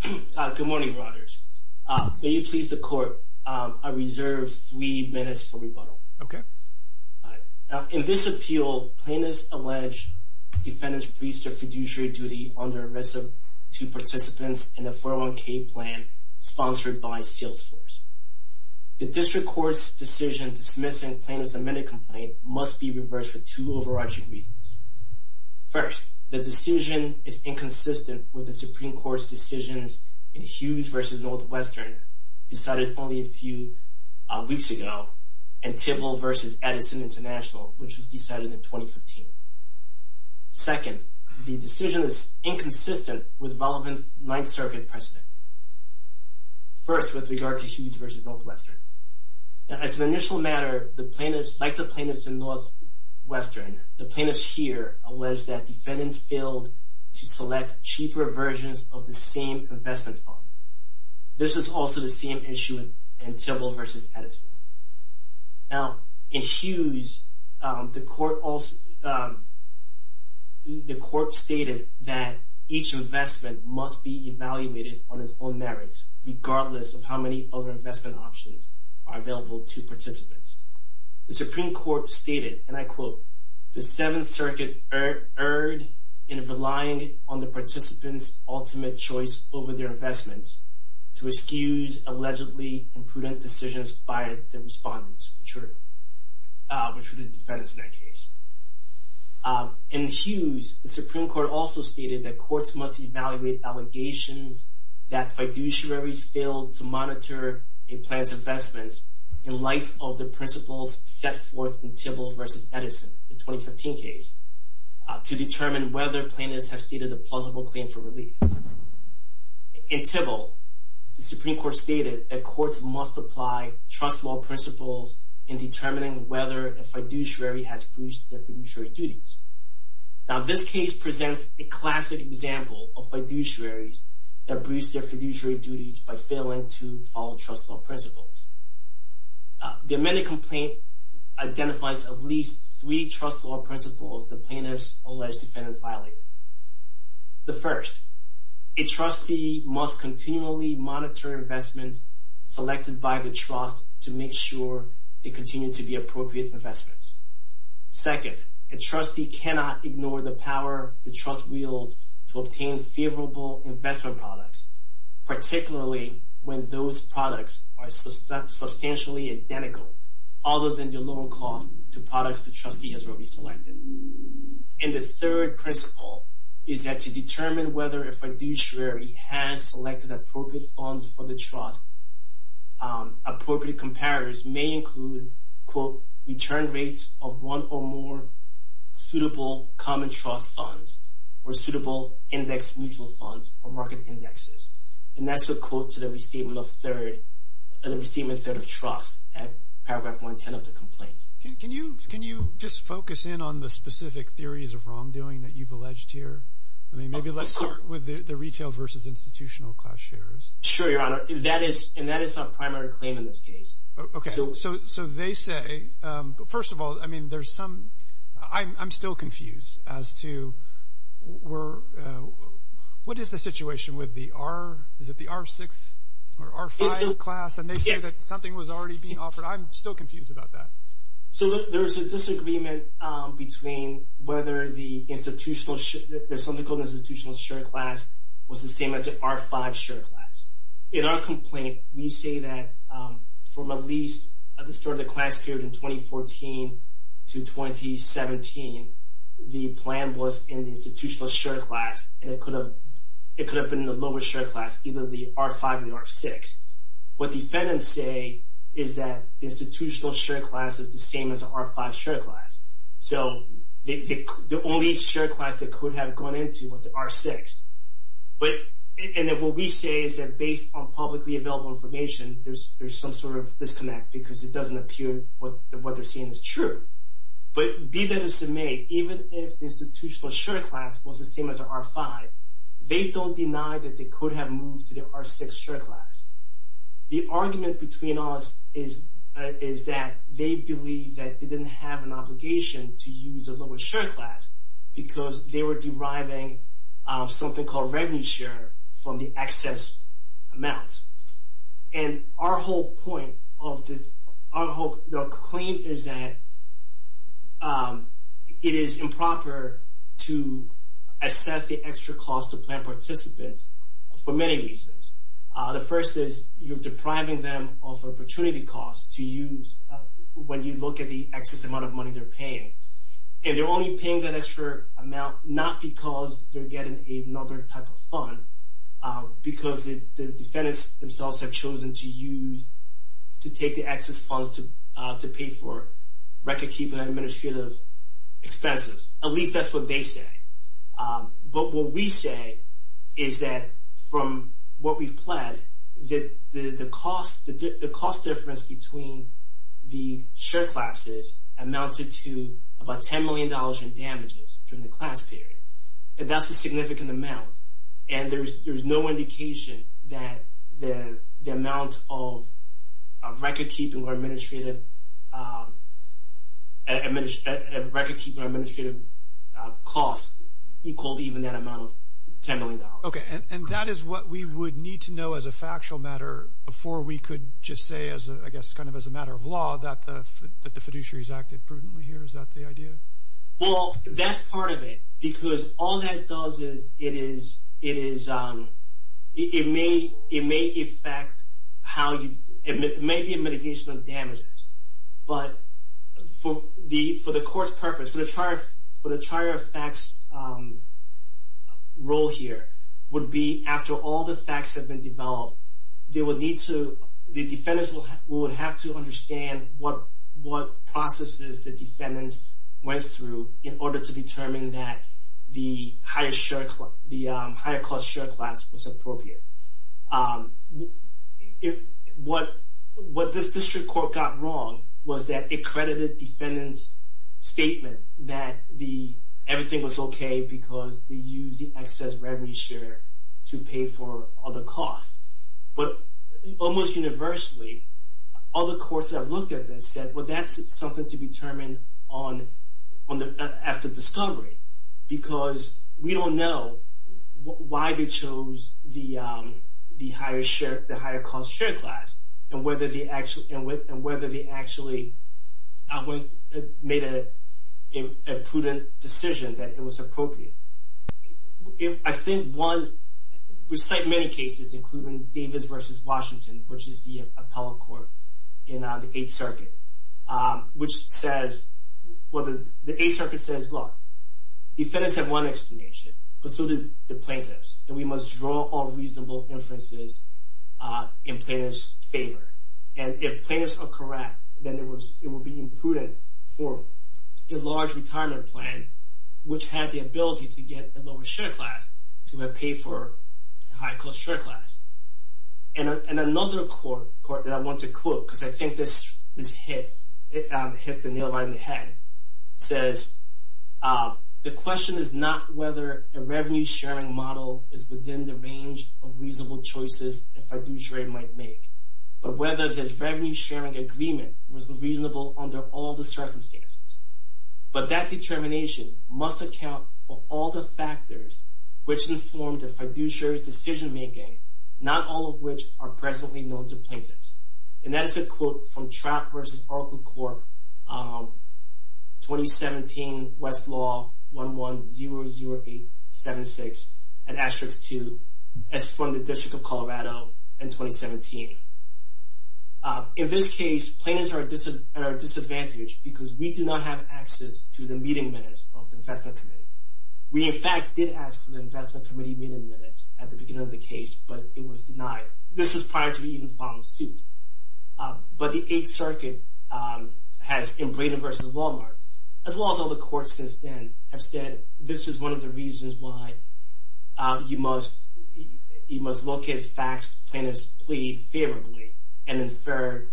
Good morning, Rogers. May you please the court, I reserve three minutes for rebuttal. Okay. In this appeal, plaintiffs allege defendant's breach of fiduciary duty under arrest of two participants in a 401k plan sponsored by SalesForce. The district court's decision dismissing plaintiff's amended complaint must be reversed with two overarching reasons. First, the decision is inconsistent with the Supreme Court's decisions in Hughes v. Northwestern decided only a few weeks ago in Tibble v. Edison International, which was decided in 2015. Second, the decision is inconsistent with relevant Ninth Circuit precedent. First, with regard to Hughes v. Northwestern. As an initial matter, like the plaintiffs in Northwestern, the plaintiffs here allege that defendants failed to select cheaper versions of the same investment fund. This is also the same issue in Tibble v. Edison. Now, in Hughes, the court stated that each investment must be evaluated on its own merits, regardless of how many other investment options are available to participants. The Supreme Court stated, and I quote, the Seventh Circuit erred in relying on the participant's ultimate choice over their investments to excuse allegedly imprudent decisions by the respondents, which were the defendants in that case. In Hughes, the Supreme Court also stated that courts must evaluate allegations in light of the principles set forth in Tibble v. Edison, the 2015 case, to determine whether plaintiffs have stated a plausible claim for relief. In Tibble, the Supreme Court stated that courts must apply trust law principles in determining whether a fiduciary has breached their fiduciary duties. Now, this case presents a classic example of fiduciaries that breached their fiduciary duties by failing to follow trust law principles. The amended complaint identifies at least three trust law principles that plaintiffs allege defendants violated. The first, a trustee must continually monitor investments selected by the trust to make sure they continue to be appropriate investments. Second, a trustee cannot ignore the power the trust wields to obtain favorable investment products, particularly when those products are substantially identical, other than the lower cost to products the trustee has already selected. And the third principle is that to determine whether a fiduciary has selected appropriate funds for the trust, appropriate comparators may include, quote, return rates of one or more suitable common trust funds or suitable index mutual funds or market indexes. And that's a quote to the Restatement of Third of Trust at paragraph 110 of the complaint. Can you just focus in on the specific theories of wrongdoing that you've alleged here? Maybe let's start with the retail versus institutional class shares. Sure, Your Honor. And that is our primary claim in this case. Okay. So they say, first of all, I mean, there's some – I'm still confused as to what is the situation with the R – is it the R6 or R5 class? And they say that something was already being offered. I'm still confused about that. So there's a disagreement between whether the institutional – there's something called an institutional share class was the same as an R5 share class. In our complaint, we say that from at least the start of the class period in 2014 to 2017, the plan was in the institutional share class, and it could have been in the lower share class, either the R5 or the R6. What defendants say is that the institutional share class is the same as the R5 share class. So the only share class they could have gone into was the R6. And then what we say is that based on publicly available information, there's some sort of disconnect because it doesn't appear what they're seeing is true. But be that as it may, even if the institutional share class was the same as an R5, they don't deny that they could have moved to the R6 share class. The argument between us is that they believe that they didn't have an obligation to use a lower share class because they were deriving something called revenue share from the excess amounts. And our whole point of the – our whole claim is that it is improper to assess the extra cost of plan participants for many reasons. The first is you're depriving them of opportunity costs to use when you look at the excess amount of money they're paying. And they're only paying that extra amount not because they're getting another type of fund, because the defendants themselves have chosen to use – to take the excess funds to pay for record-keeping administrative expenses. At least that's what they say. But what we say is that from what we've planned, that the cost difference between the share classes amounted to about $10 million in damages during the class period. And that's a significant amount. And there's no indication that the amount of record-keeping or administrative costs equal even that amount of $10 million. Okay. And that is what we would need to know as a factual matter before we could just say, I guess kind of as a matter of law, that the fiduciaries acted prudently here. Is that the idea? Well, that's part of it because all that does is it is – it may affect how you – it may be a mitigation of damages. But for the court's purpose, for the trier of facts role here, would be after all the facts have been developed, they would need to – the defendants would have to understand what processes the defendants went through in order to determine that the higher cost share class was appropriate. What this district court got wrong was that it credited defendants' statement that everything was okay because they used the excess revenue share to pay for other costs. But almost universally, other courts have looked at this and said, well, that's something to determine after discovery because we don't know why they chose the higher cost share class and whether they actually made a prudent decision that it was appropriate. I think one – we cite many cases, including Davis v. Washington, which is the appellate court in the Eighth Circuit, which says – defendants have one explanation, but so do the plaintiffs, and we must draw all reasonable inferences in plaintiffs' favor. And if plaintiffs are correct, then it would be imprudent for a large retirement plan, which had the ability to get a lower share class, to have paid for a higher cost share class. And another court that I want to quote, because I think this hits the nail right on the head, says, the question is not whether a revenue-sharing model is within the range of reasonable choices a fiduciary might make, but whether his revenue-sharing agreement was reasonable under all the circumstances. But that determination must account for all the factors which informed a fiduciary's decision-making, not all of which are presently known to plaintiffs. And that's a quote from Trapp v. Oracle Corp., 2017, Westlaw 1100876, and asterisk 2, as from the District of Colorado in 2017. In this case, plaintiffs are at a disadvantage because we do not have access to the meeting minutes of the Investment Committee. We, in fact, did ask for the Investment Committee meeting minutes at the beginning of the case, but it was denied. This is prior to the eventual suit. But the Eighth Circuit has, in Braden v. Walmart, as well as all the courts since then, have said this is one of the reasons why you must locate facts plaintiffs plead favorably and infer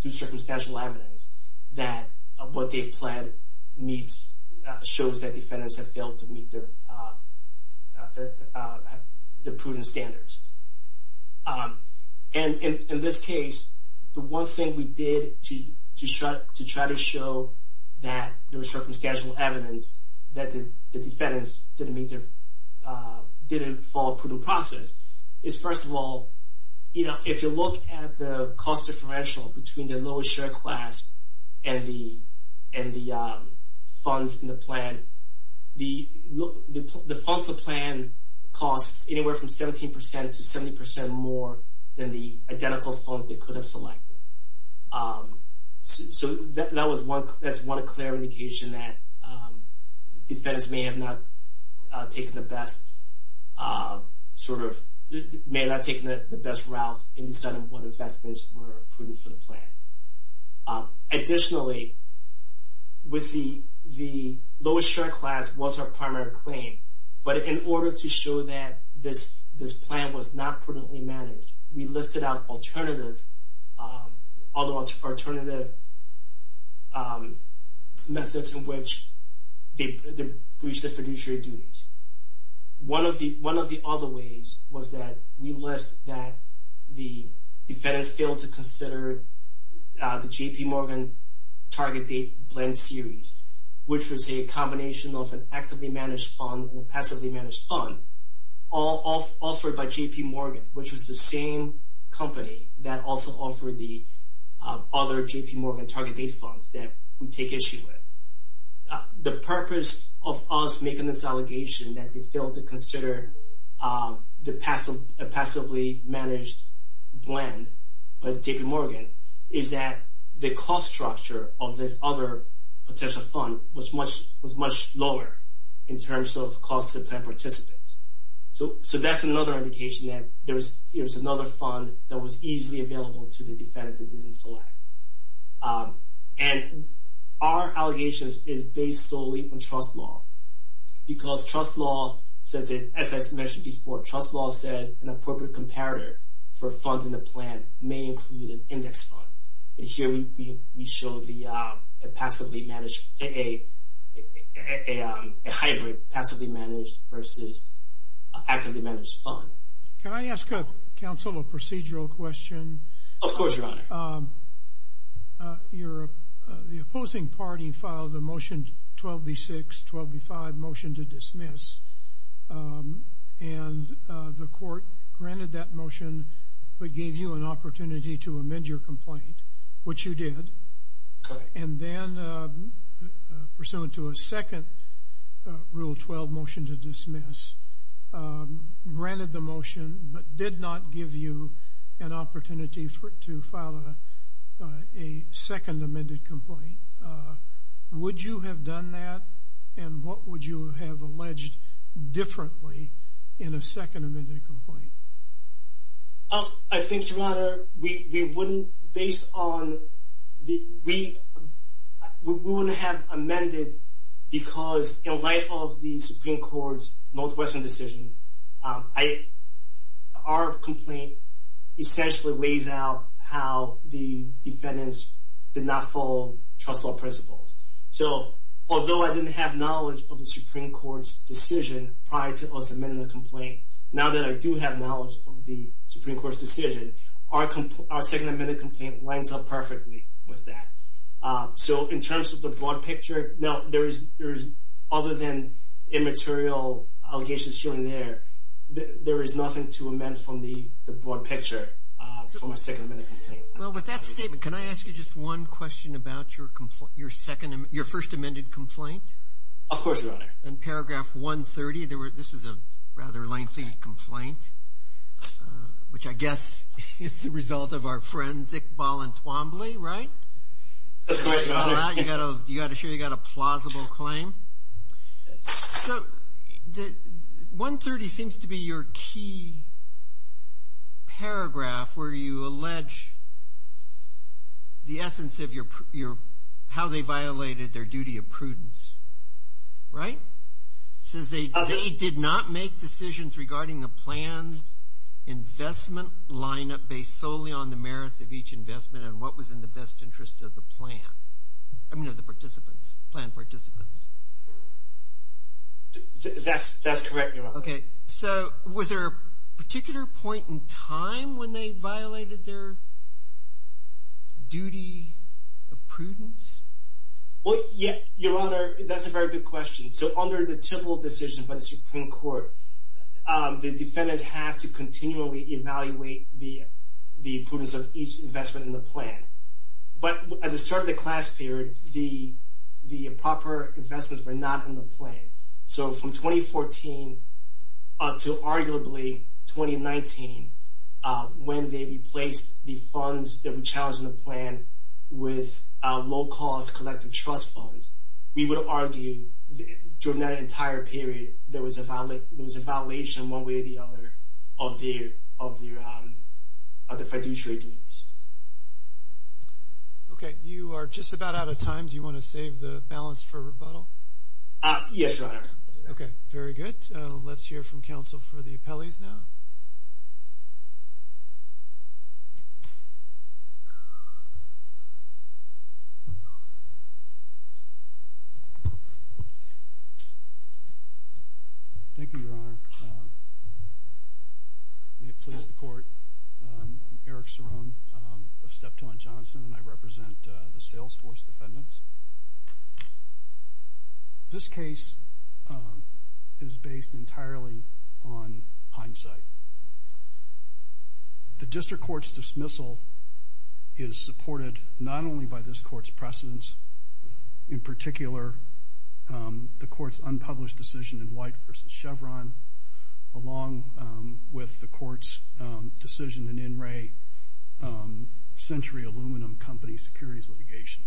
through circumstantial evidence that what they've pled shows that defendants have failed to meet their prudent standards. And in this case, the one thing we did to try to show that there was circumstantial evidence that the defendants didn't follow a prudent process is, first of all, if you look at the cost differential between the lowest share class and the funds in the plan, the funds in the plan cost anywhere from 17% to 70% more than the identical funds they could have selected. So that's one clear indication that defendants may have not taken the best route in deciding what investments were prudent for the plan. Additionally, the lowest share class was our primary claim, but in order to show that this plan was not prudently managed, we listed out alternative methods in which they breached their fiduciary duties. One of the other ways was that we list that the defendants failed to consider the J.P. Morgan Target Date Blend Series, which was a combination of an actively managed fund and a passively managed fund, all offered by J.P. Morgan, which was the same company that also offered the other J.P. Morgan Target Date Funds that we take issue with. The purpose of us making this allegation that they failed to consider a passively managed blend by J.P. Morgan is that the cost structure of this other potential fund was much lower in terms of cost to plan participants. So that's another indication that there was another fund that was easily available to the defendants that didn't select. And our allegations is based solely on trust law because trust law says, as I mentioned before, trust law says an appropriate comparator for funding the plan may include an index fund. And here we show a hybrid passively managed versus actively managed fund. Can I ask counsel a procedural question? Of course, Your Honor. The opposing party filed a Motion 12B6, 12B5, Motion to Dismiss, and the court granted that motion but gave you an opportunity to amend your complaint, which you did, and then, pursuant to a second Rule 12 Motion to Dismiss, granted the motion but did not give you an opportunity to file a second amended complaint. Would you have done that, and what would you have alleged differently in a second amended complaint? I think, Your Honor, we wouldn't have amended because in light of the Supreme Court's Northwestern decision, our complaint essentially lays out how the defendants did not follow trust law principles. So although I didn't have knowledge of the Supreme Court's decision prior to us amending the complaint, now that I do have knowledge of the Supreme Court's decision, our second amended complaint lines up perfectly with that. So in terms of the broad picture, other than immaterial allegations shown there, there is nothing to amend from the broad picture for my second amended complaint. Well, with that statement, can I ask you just one question about your first amended complaint? Of course, Your Honor. In paragraph 130, this was a rather lengthy complaint, which I guess is the result of our forensic ball and twombly, right? That's correct, Your Honor. You got a plausible claim. So 130 seems to be your key paragraph where you allege the essence of how they violated their duty of prudence, right? It says they did not make decisions regarding the plan's investment lineup based solely on the merits of each investment and what was in the best interest of the plan, I mean of the participants, plan participants. That's correct, Your Honor. Okay. So was there a particular point in time when they violated their duty of prudence? Well, yeah, Your Honor, that's a very good question. So under the typical decision by the Supreme Court, the defendants have to continually evaluate the prudence of each investment in the plan. But at the start of the class period, the proper investments were not in the plan. So from 2014 to arguably 2019, when they replaced the funds that were challenged in the plan with low-cost collective trust funds, we would argue during that entire period there was a violation one way or the other of their fiduciary duties. Okay. You are just about out of time. Do you want to save the balance for rebuttal? Yes, Your Honor. Okay. Very good. Let's hear from counsel for the appellees now. Thank you, Your Honor. May it please the Court. I'm Eric Cerrone of Steptoe & Johnson, and I represent the Salesforce defendants. This case is based entirely on hindsight. The district court's dismissal is supported not only by this court's precedents, in particular the court's unpublished decision in White v. Chevron, along with the court's decision in NRA Century Aluminum Company securities litigation.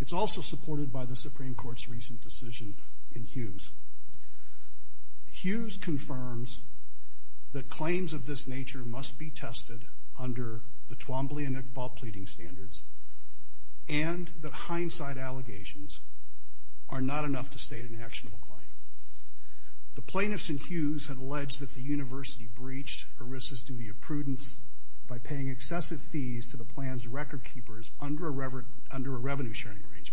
It's also supported by the Supreme Court's recent decision in Hughes. Hughes confirms that claims of this nature must be tested under the Twombly and Iqbal pleading standards and that hindsight allegations are not enough to state an actionable claim. The plaintiffs in Hughes had alleged that the university breached ERISA's duty of prudence by paying excessive fees to the plan's record keepers under a revenue-sharing arrangement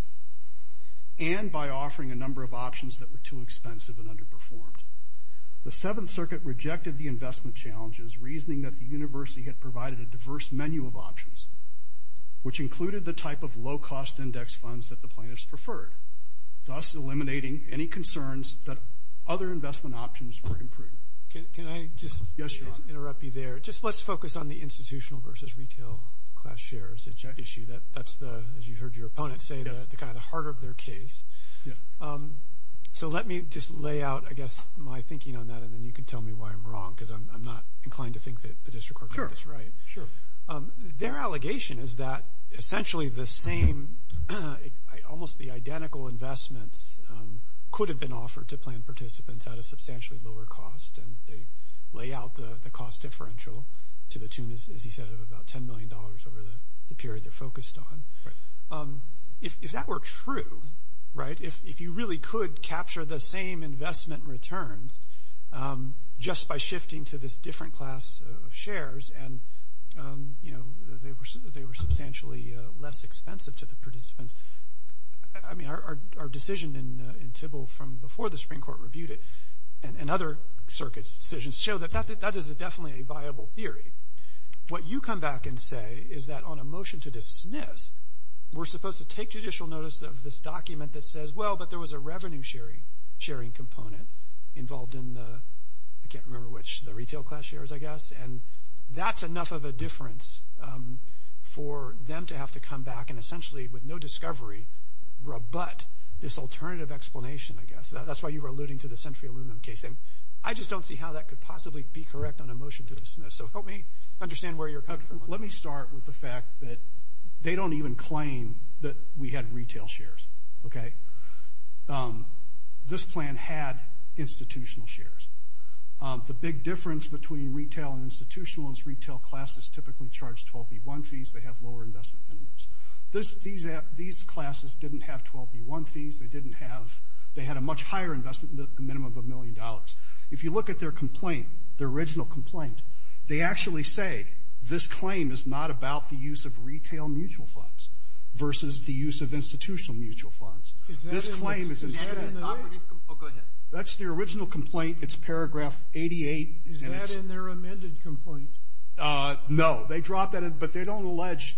and by offering a number of options that were too expensive and underperformed. The Seventh Circuit rejected the investment challenges, reasoning that the university had provided a diverse menu of options, which included the type of low-cost index funds that the plaintiffs preferred, thus eliminating any concerns that other investment options were imprudent. Can I just interrupt you there? Yes, John. Just let's focus on the institutional versus retail class shares issue. That's the, as you heard your opponent say, kind of the heart of their case. Yeah. So let me just lay out, I guess, my thinking on that, and then you can tell me why I'm wrong because I'm not inclined to think that the district court did this right. Sure, sure. Their allegation is that essentially the same, almost the identical investments could have been offered to plan participants at a substantially lower cost, and they lay out the cost differential to the tune, as he said, of about $10 million over the period they're focused on. Right. If that were true, right, if you really could capture the same investment returns just by shifting to this different class of shares, and, you know, they were substantially less expensive to the participants. I mean, our decision in Tybill from before the Supreme Court reviewed it and other circuits' decisions show that that is definitely a viable theory. What you come back and say is that on a motion to dismiss, we're supposed to take judicial notice of this document that says, well, but there was a revenue sharing component involved in the, I can't remember which, the retail class shares, I guess, and that's enough of a difference for them to have to come back and essentially with no discovery rebut this alternative explanation, I guess. That's why you were alluding to the Century Aluminum case, and I just don't see how that could possibly be correct on a motion to dismiss. Let me start with the fact that they don't even claim that we had retail shares. Okay. This plan had institutional shares. The big difference between retail and institutional is retail classes typically charge 12B1 fees. They have lower investment minimums. These classes didn't have 12B1 fees. They didn't have, they had a much higher investment minimum of a million dollars. If you look at their complaint, their original complaint, they actually say this claim is not about the use of retail mutual funds versus the use of institutional mutual funds. Is that in the? That's their original complaint. It's paragraph 88. Is that in their amended complaint? No. They dropped that in, but they don't allege,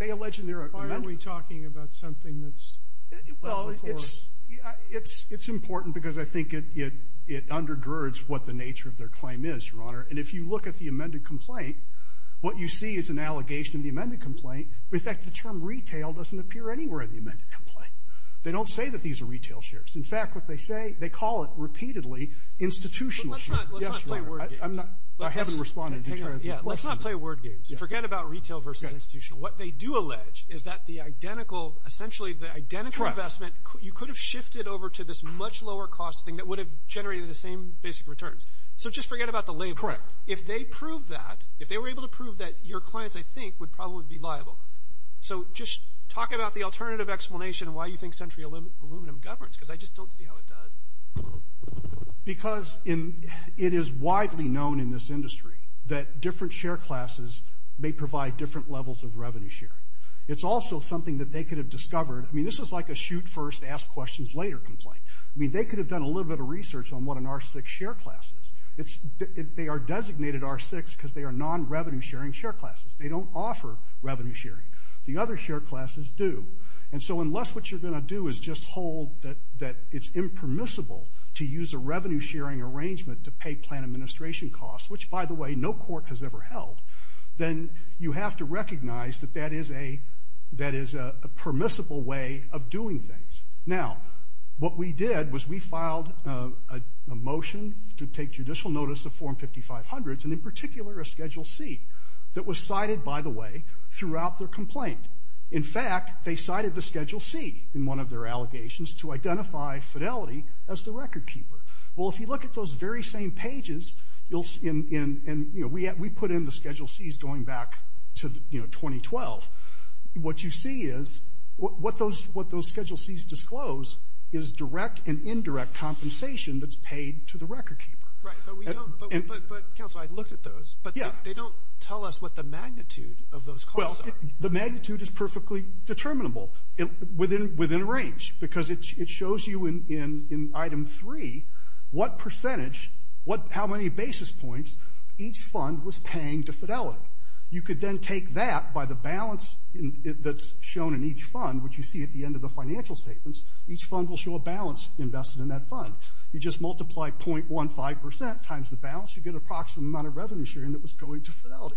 they allege in their amendment. Why aren't we talking about something that's? Well, it's important because I think it undergirds what the nature of their claim is, Your Honor, and if you look at the amended complaint, what you see is an allegation in the amended complaint. In fact, the term retail doesn't appear anywhere in the amended complaint. They don't say that these are retail shares. In fact, what they say, they call it repeatedly institutional shares. Let's not play word games. I haven't responded entirely. Let's not play word games. Forget about retail versus institutional. What they do allege is that the identical, essentially the identical investment, you could have shifted over to this much lower cost thing that would have generated the same basic returns. So just forget about the label. Correct. If they prove that, if they were able to prove that, your clients, I think, would probably be liable. So just talk about the alternative explanation of why you think Century Aluminum governs, because I just don't see how it does. Because it is widely known in this industry that different share classes may provide different levels of revenue sharing. It's also something that they could have discovered. I mean, this is like a shoot first, ask questions later complaint. I mean, they could have done a little bit of research on what an R6 share class is. They are designated R6 because they are non-revenue sharing share classes. They don't offer revenue sharing. The other share classes do. And so unless what you're going to do is just hold that it's impermissible to use a revenue sharing arrangement to pay plan administration costs, which, by the way, no court has ever held, then you have to recognize that that is a permissible way of doing things. Now, what we did was we filed a motion to take judicial notice of Form 5500s, and in particular a Schedule C that was cited, by the way, throughout their complaint. In fact, they cited the Schedule C in one of their allegations to identify Fidelity as the record keeper. Well, if you look at those very same pages, and we put in the Schedule Cs going back to 2012, what you see is what those Schedule Cs disclose is direct and indirect compensation that's paid to the record keeper. But, Counselor, I looked at those, but they don't tell us what the magnitude of those costs are. Well, the magnitude is perfectly determinable within a range because it shows you in Item 3 what percentage, how many basis points each fund was paying to Fidelity. You could then take that by the balance that's shown in each fund, which you see at the end of the financial statements. Each fund will show a balance invested in that fund. You just multiply .15 percent times the balance, you get an approximate amount of revenue sharing that was going to Fidelity.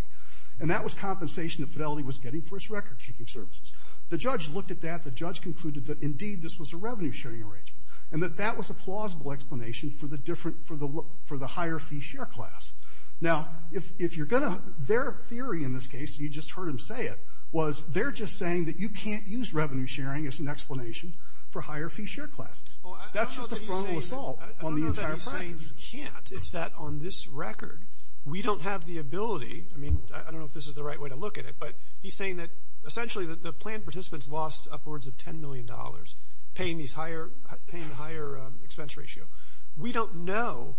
And that was compensation that Fidelity was getting for its record keeping services. The judge looked at that. The judge concluded that, indeed, this was a revenue sharing arrangement, and that that was a plausible explanation for the higher fee share class. Now, if you're going to, their theory in this case, and you just heard him say it, was they're just saying that you can't use revenue sharing as an explanation for higher fee share classes. That's just a formal assault on the entire practice. I don't know that he's saying you can't. It's that on this record, we don't have the ability, I mean, I don't know if this is the right way to look at it, but he's saying that essentially the planned participants lost upwards of $10 million paying higher expense ratio. We don't know,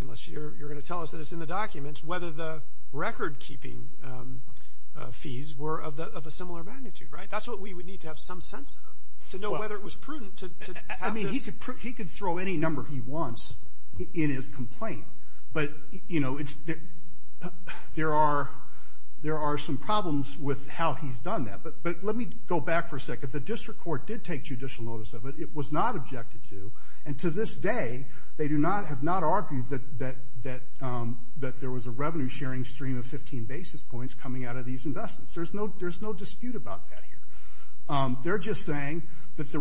unless you're going to tell us that it's in the documents, whether the record keeping fees were of a similar magnitude, right? That's what we would need to have some sense of to know whether it was prudent to have this. I mean, he could throw any number he wants in his complaint. But, you know, there are some problems with how he's done that. But let me go back for a second. The district court did take judicial notice of it. It was not objected to. And to this day, they have not argued that there was a revenue sharing stream of 15 basis points coming out of these investments. There's no dispute about that here. They're just saying that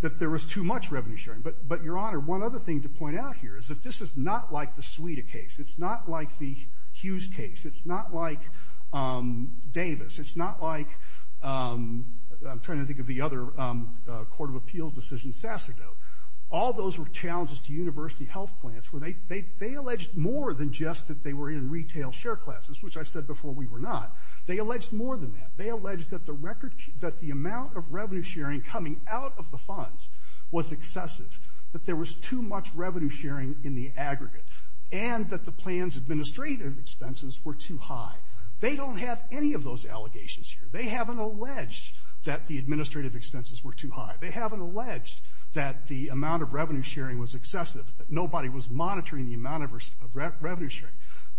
there was too much revenue sharing. But, Your Honor, one other thing to point out here is that this is not like the Suita case. It's not like the Hughes case. It's not like Davis. It's not like, I'm trying to think of the other court of appeals decision, Sasserdote. All those were challenges to university health plans where they alleged more than just that they were in retail share classes, which I said before we were not. They alleged more than that. They alleged that the amount of revenue sharing coming out of the funds was excessive, that there was too much revenue sharing in the aggregate, and that the plan's administrative expenses were too high. They don't have any of those allegations here. They haven't alleged that the administrative expenses were too high. They haven't alleged that the amount of revenue sharing was excessive, that nobody was monitoring the amount of revenue sharing.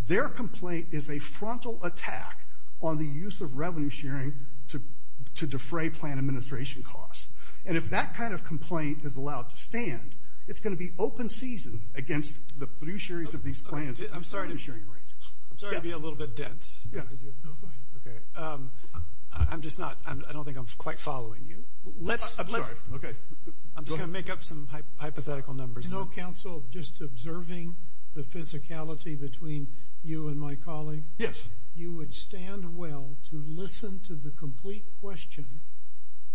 Their complaint is a frontal attack on the use of revenue sharing to defray plan administration costs. And if that kind of complaint is allowed to stand, it's going to be open season against the fiduciaries of these plans. I'm sorry to be a little bit dense. Go ahead. Okay. I'm just not, I don't think I'm quite following you. I'm sorry. Okay. I'm just going to make up some hypothetical numbers. You know, counsel, just observing the physicality between you and my colleague. Yes. You would stand well to listen to the complete question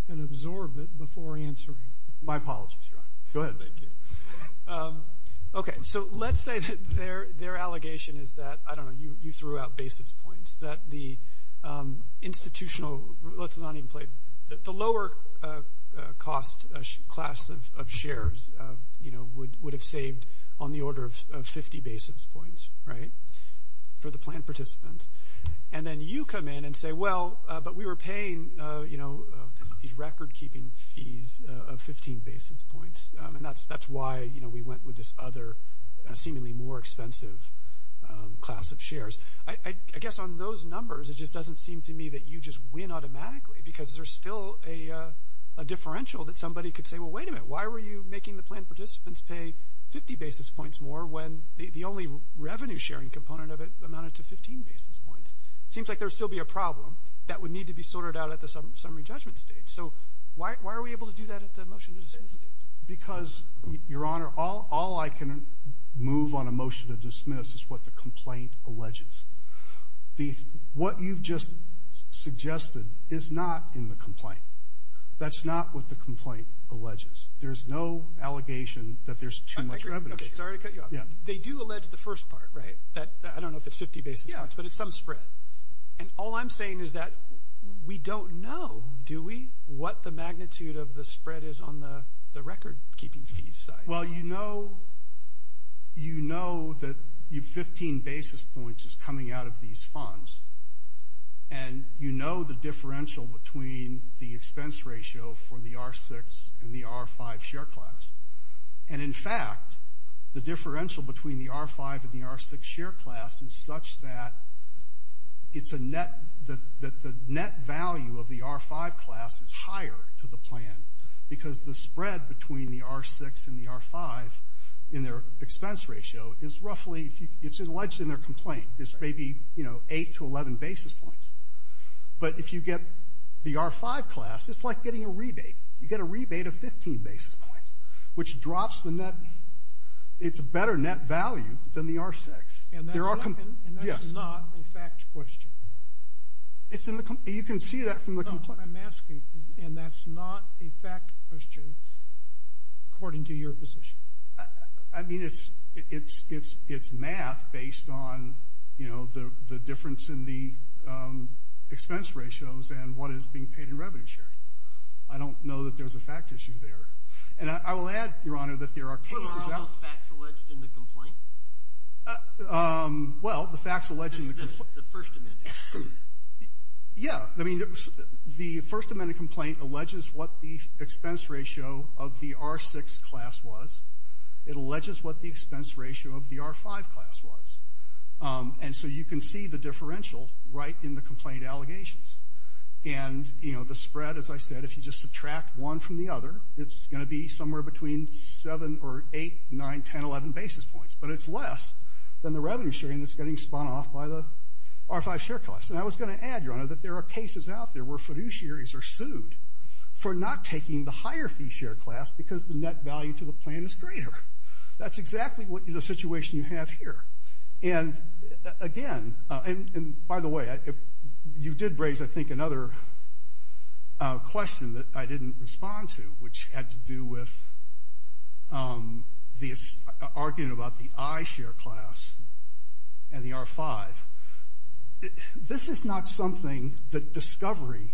and absorb it before answering. My apologies, Your Honor. Go ahead. Thank you. Okay. So let's say that their allegation is that, I don't know, you threw out basis points, that the institutional, let's not even play. The lower cost class of shares, you know, would have saved on the order of 50 basis points, right, for the plan participants. And then you come in and say, well, but we were paying, you know, these record keeping fees of 15 basis points. And that's why, you know, we went with this other seemingly more expensive class of shares. I guess on those numbers, it just doesn't seem to me that you just win automatically, because there's still a differential that somebody could say, well, wait a minute. Why were you making the plan participants pay 50 basis points more when the only revenue sharing component of it amounted to 15 basis points? It seems like there would still be a problem that would need to be sorted out at the summary judgment stage. So why are we able to do that at the motion to dismiss stage? Because, Your Honor, all I can move on a motion to dismiss is what the complaint alleges. What you've just suggested is not in the complaint. That's not what the complaint alleges. There's no allegation that there's too much revenue sharing. Okay, sorry to cut you off. Yeah. They do allege the first part, right, that I don't know if it's 50 basis points, but it's some spread. And all I'm saying is that we don't know, do we, what the magnitude of the spread is on the record keeping fees side. Well, you know that you have 15 basis points coming out of these funds, and you know the differential between the expense ratio for the R6 and the R5 share class. And, in fact, the differential between the R5 and the R6 share class is such that it's a net, that the net value of the R5 class is higher to the plan, because the spread between the R6 and the R5 in their expense ratio is roughly, it's alleged in their complaint, is maybe, you know, 8 to 11 basis points. But if you get the R5 class, it's like getting a rebate. You get a rebate of 15 basis points, which drops the net, it's a better net value than the R6. And that's not a fact question. It's in the, you can see that from the complaint. No, I'm asking, and that's not a fact question according to your position. I mean, it's math based on, you know, the difference in the expense ratios and what is being paid in revenue sharing. I don't know that there's a fact issue there. And I will add, Your Honor, that there are cases that. What are all those facts alleged in the complaint? Well, the facts alleged in the complaint. The First Amendment. Yeah. I mean, the First Amendment complaint alleges what the expense ratio of the R6 class was. It alleges what the expense ratio of the R5 class was. And so you can see the differential right in the complaint allegations. And, you know, the spread, as I said, if you just subtract one from the other, it's going to be somewhere between 7 or 8, 9, 10, 11 basis points. But it's less than the revenue sharing that's getting spun off by the R5 share class. And I was going to add, Your Honor, that there are cases out there where fiduciaries are sued for not taking the higher fee share class because the net value to the plan is greater. That's exactly the situation you have here. And, again, and by the way, you did raise, I think, another question that I didn't respond to, which had to do with arguing about the iShare class and the R5. This is not something that discovery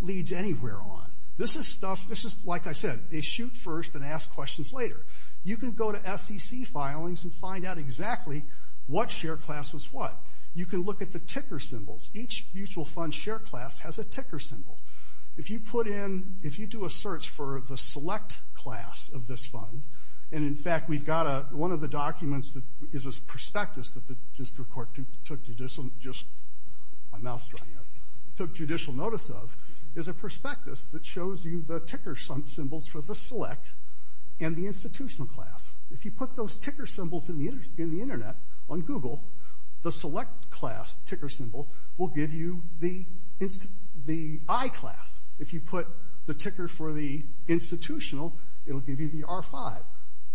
leads anywhere on. This is stuff, this is, like I said, they shoot first and ask questions later. You can go to SEC filings and find out exactly what share class was what. You can look at the ticker symbols. Each mutual fund share class has a ticker symbol. If you put in, if you do a search for the select class of this fund, and, in fact, we've got one of the documents that is a prospectus that the district court took judicial notice of, is a prospectus that shows you the ticker symbols for the select and the institutional class. If you put those ticker symbols in the internet, on Google, the select class ticker symbol will give you the I class. If you put the ticker for the institutional, it will give you the R5.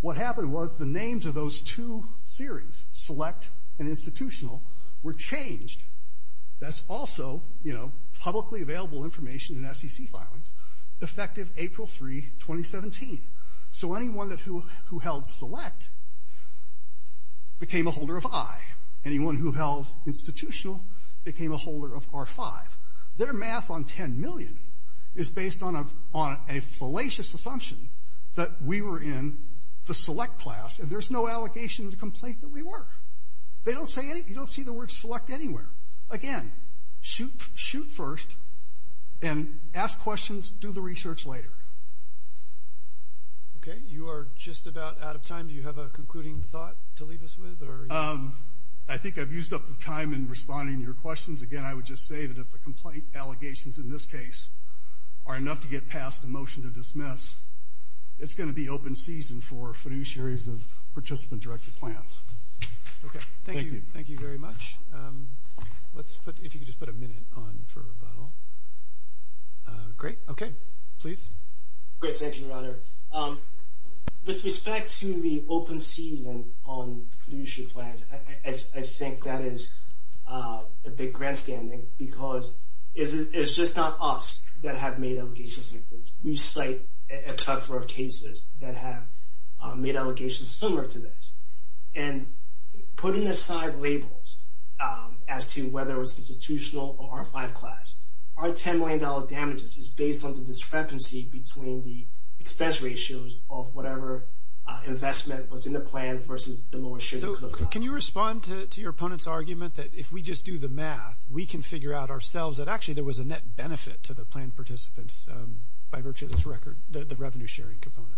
What happened was the names of those two series, select and institutional, were changed. That's also, you know, publicly available information in SEC filings, effective April 3, 2017. So anyone who held select became a holder of I. Anyone who held institutional became a holder of R5. Their math on 10 million is based on a fallacious assumption that we were in the select class, and there's no allegation or complaint that we were. They don't say, you don't see the word select anywhere. Again, shoot first and ask questions, do the research later. Okay. You are just about out of time. Do you have a concluding thought to leave us with? I think I've used up the time in responding to your questions. Again, I would just say that if the complaint allegations in this case are enough to get past the motion to dismiss, it's going to be open season for fiduciaries of participant-directed plans. Okay. Thank you. Thank you very much. If you could just put a minute on for rebuttal. Okay. Please. Great. Thank you, Your Honor. With respect to the open season on fiduciary plans, I think that is a big grandstanding because it's just not us that have made allegations like this. We cite a couple of cases that have made allegations similar to this. And putting aside labels as to whether it's institutional or R5 class, our $10 million damages is based on the discrepancy between the expense ratios of whatever investment was in the plan versus the lower shares of the club. Can you respond to your opponent's argument that if we just do the math, we can figure out ourselves that actually there was a net benefit to the planned participants by virtue of this record, the revenue sharing component?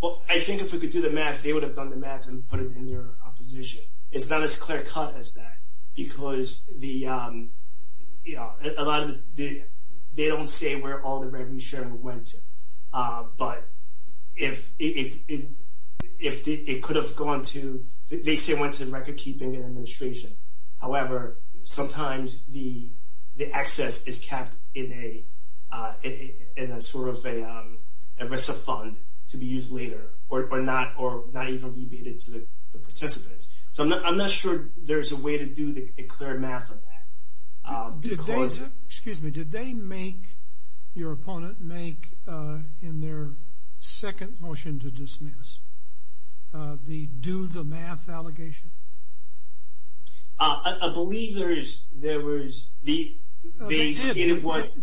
Well, I think if we could do the math, they would have done the math and put it in their opposition. It's not as clear cut as that because they don't say where all the revenue sharing went to. But if it could have gone to, they say it went to record keeping and administration. However, sometimes the excess is kept in a sort of a rest of fund to be used later or not even be made to the participants. So I'm not sure there's a way to do a clear math on that. Excuse me, did they make, your opponent make in their second motion to dismiss, the do the math allegation? I believe there was, they did, but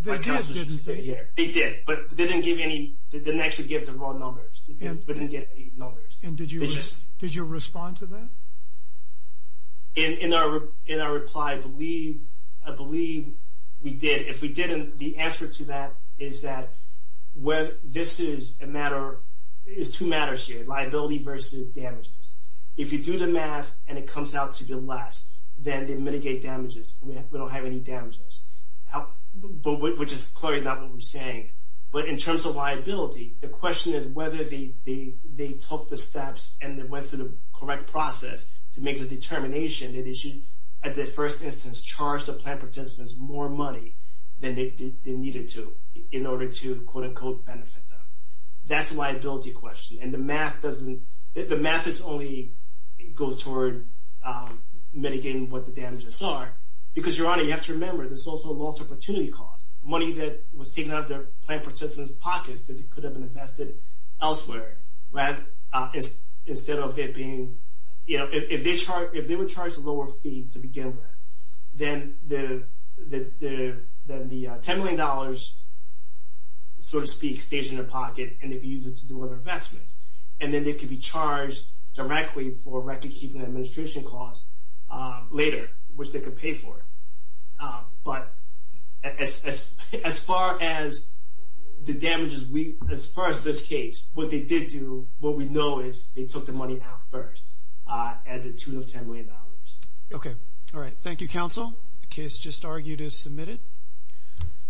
they didn't actually give the raw numbers. And did you respond to that? In our reply, I believe we did. If we didn't, the answer to that is that this is two matters here, liability versus damages. If you do the math and it comes out to be less, then they mitigate damages. We don't have any damages, which is clearly not what we're saying. But in terms of liability, the question is whether they took the steps and they went through the correct process to make the determination that they should, at the first instance, charge the plan participants more money than they needed to in order to quote-unquote benefit them. That's a liability question, and the math doesn't, the math is only, it goes toward mitigating what the damages are. Because, Your Honor, you have to remember there's also a loss of opportunity cost, money that was taken out of the plan participants' pockets that could have been invested elsewhere. Instead of it being, you know, if they were charged a lower fee to begin with, then the $10 million, so to speak, stays in their pocket, and they could use it to do other investments. And then they could be charged directly for recordkeeping and administration costs later, which they could pay for. But as far as the damages, as far as this case, what they did do, what we know is they took the money out first at the tune of $10 million. Okay. All right. Thank you, counsel. The case just argued is submitted.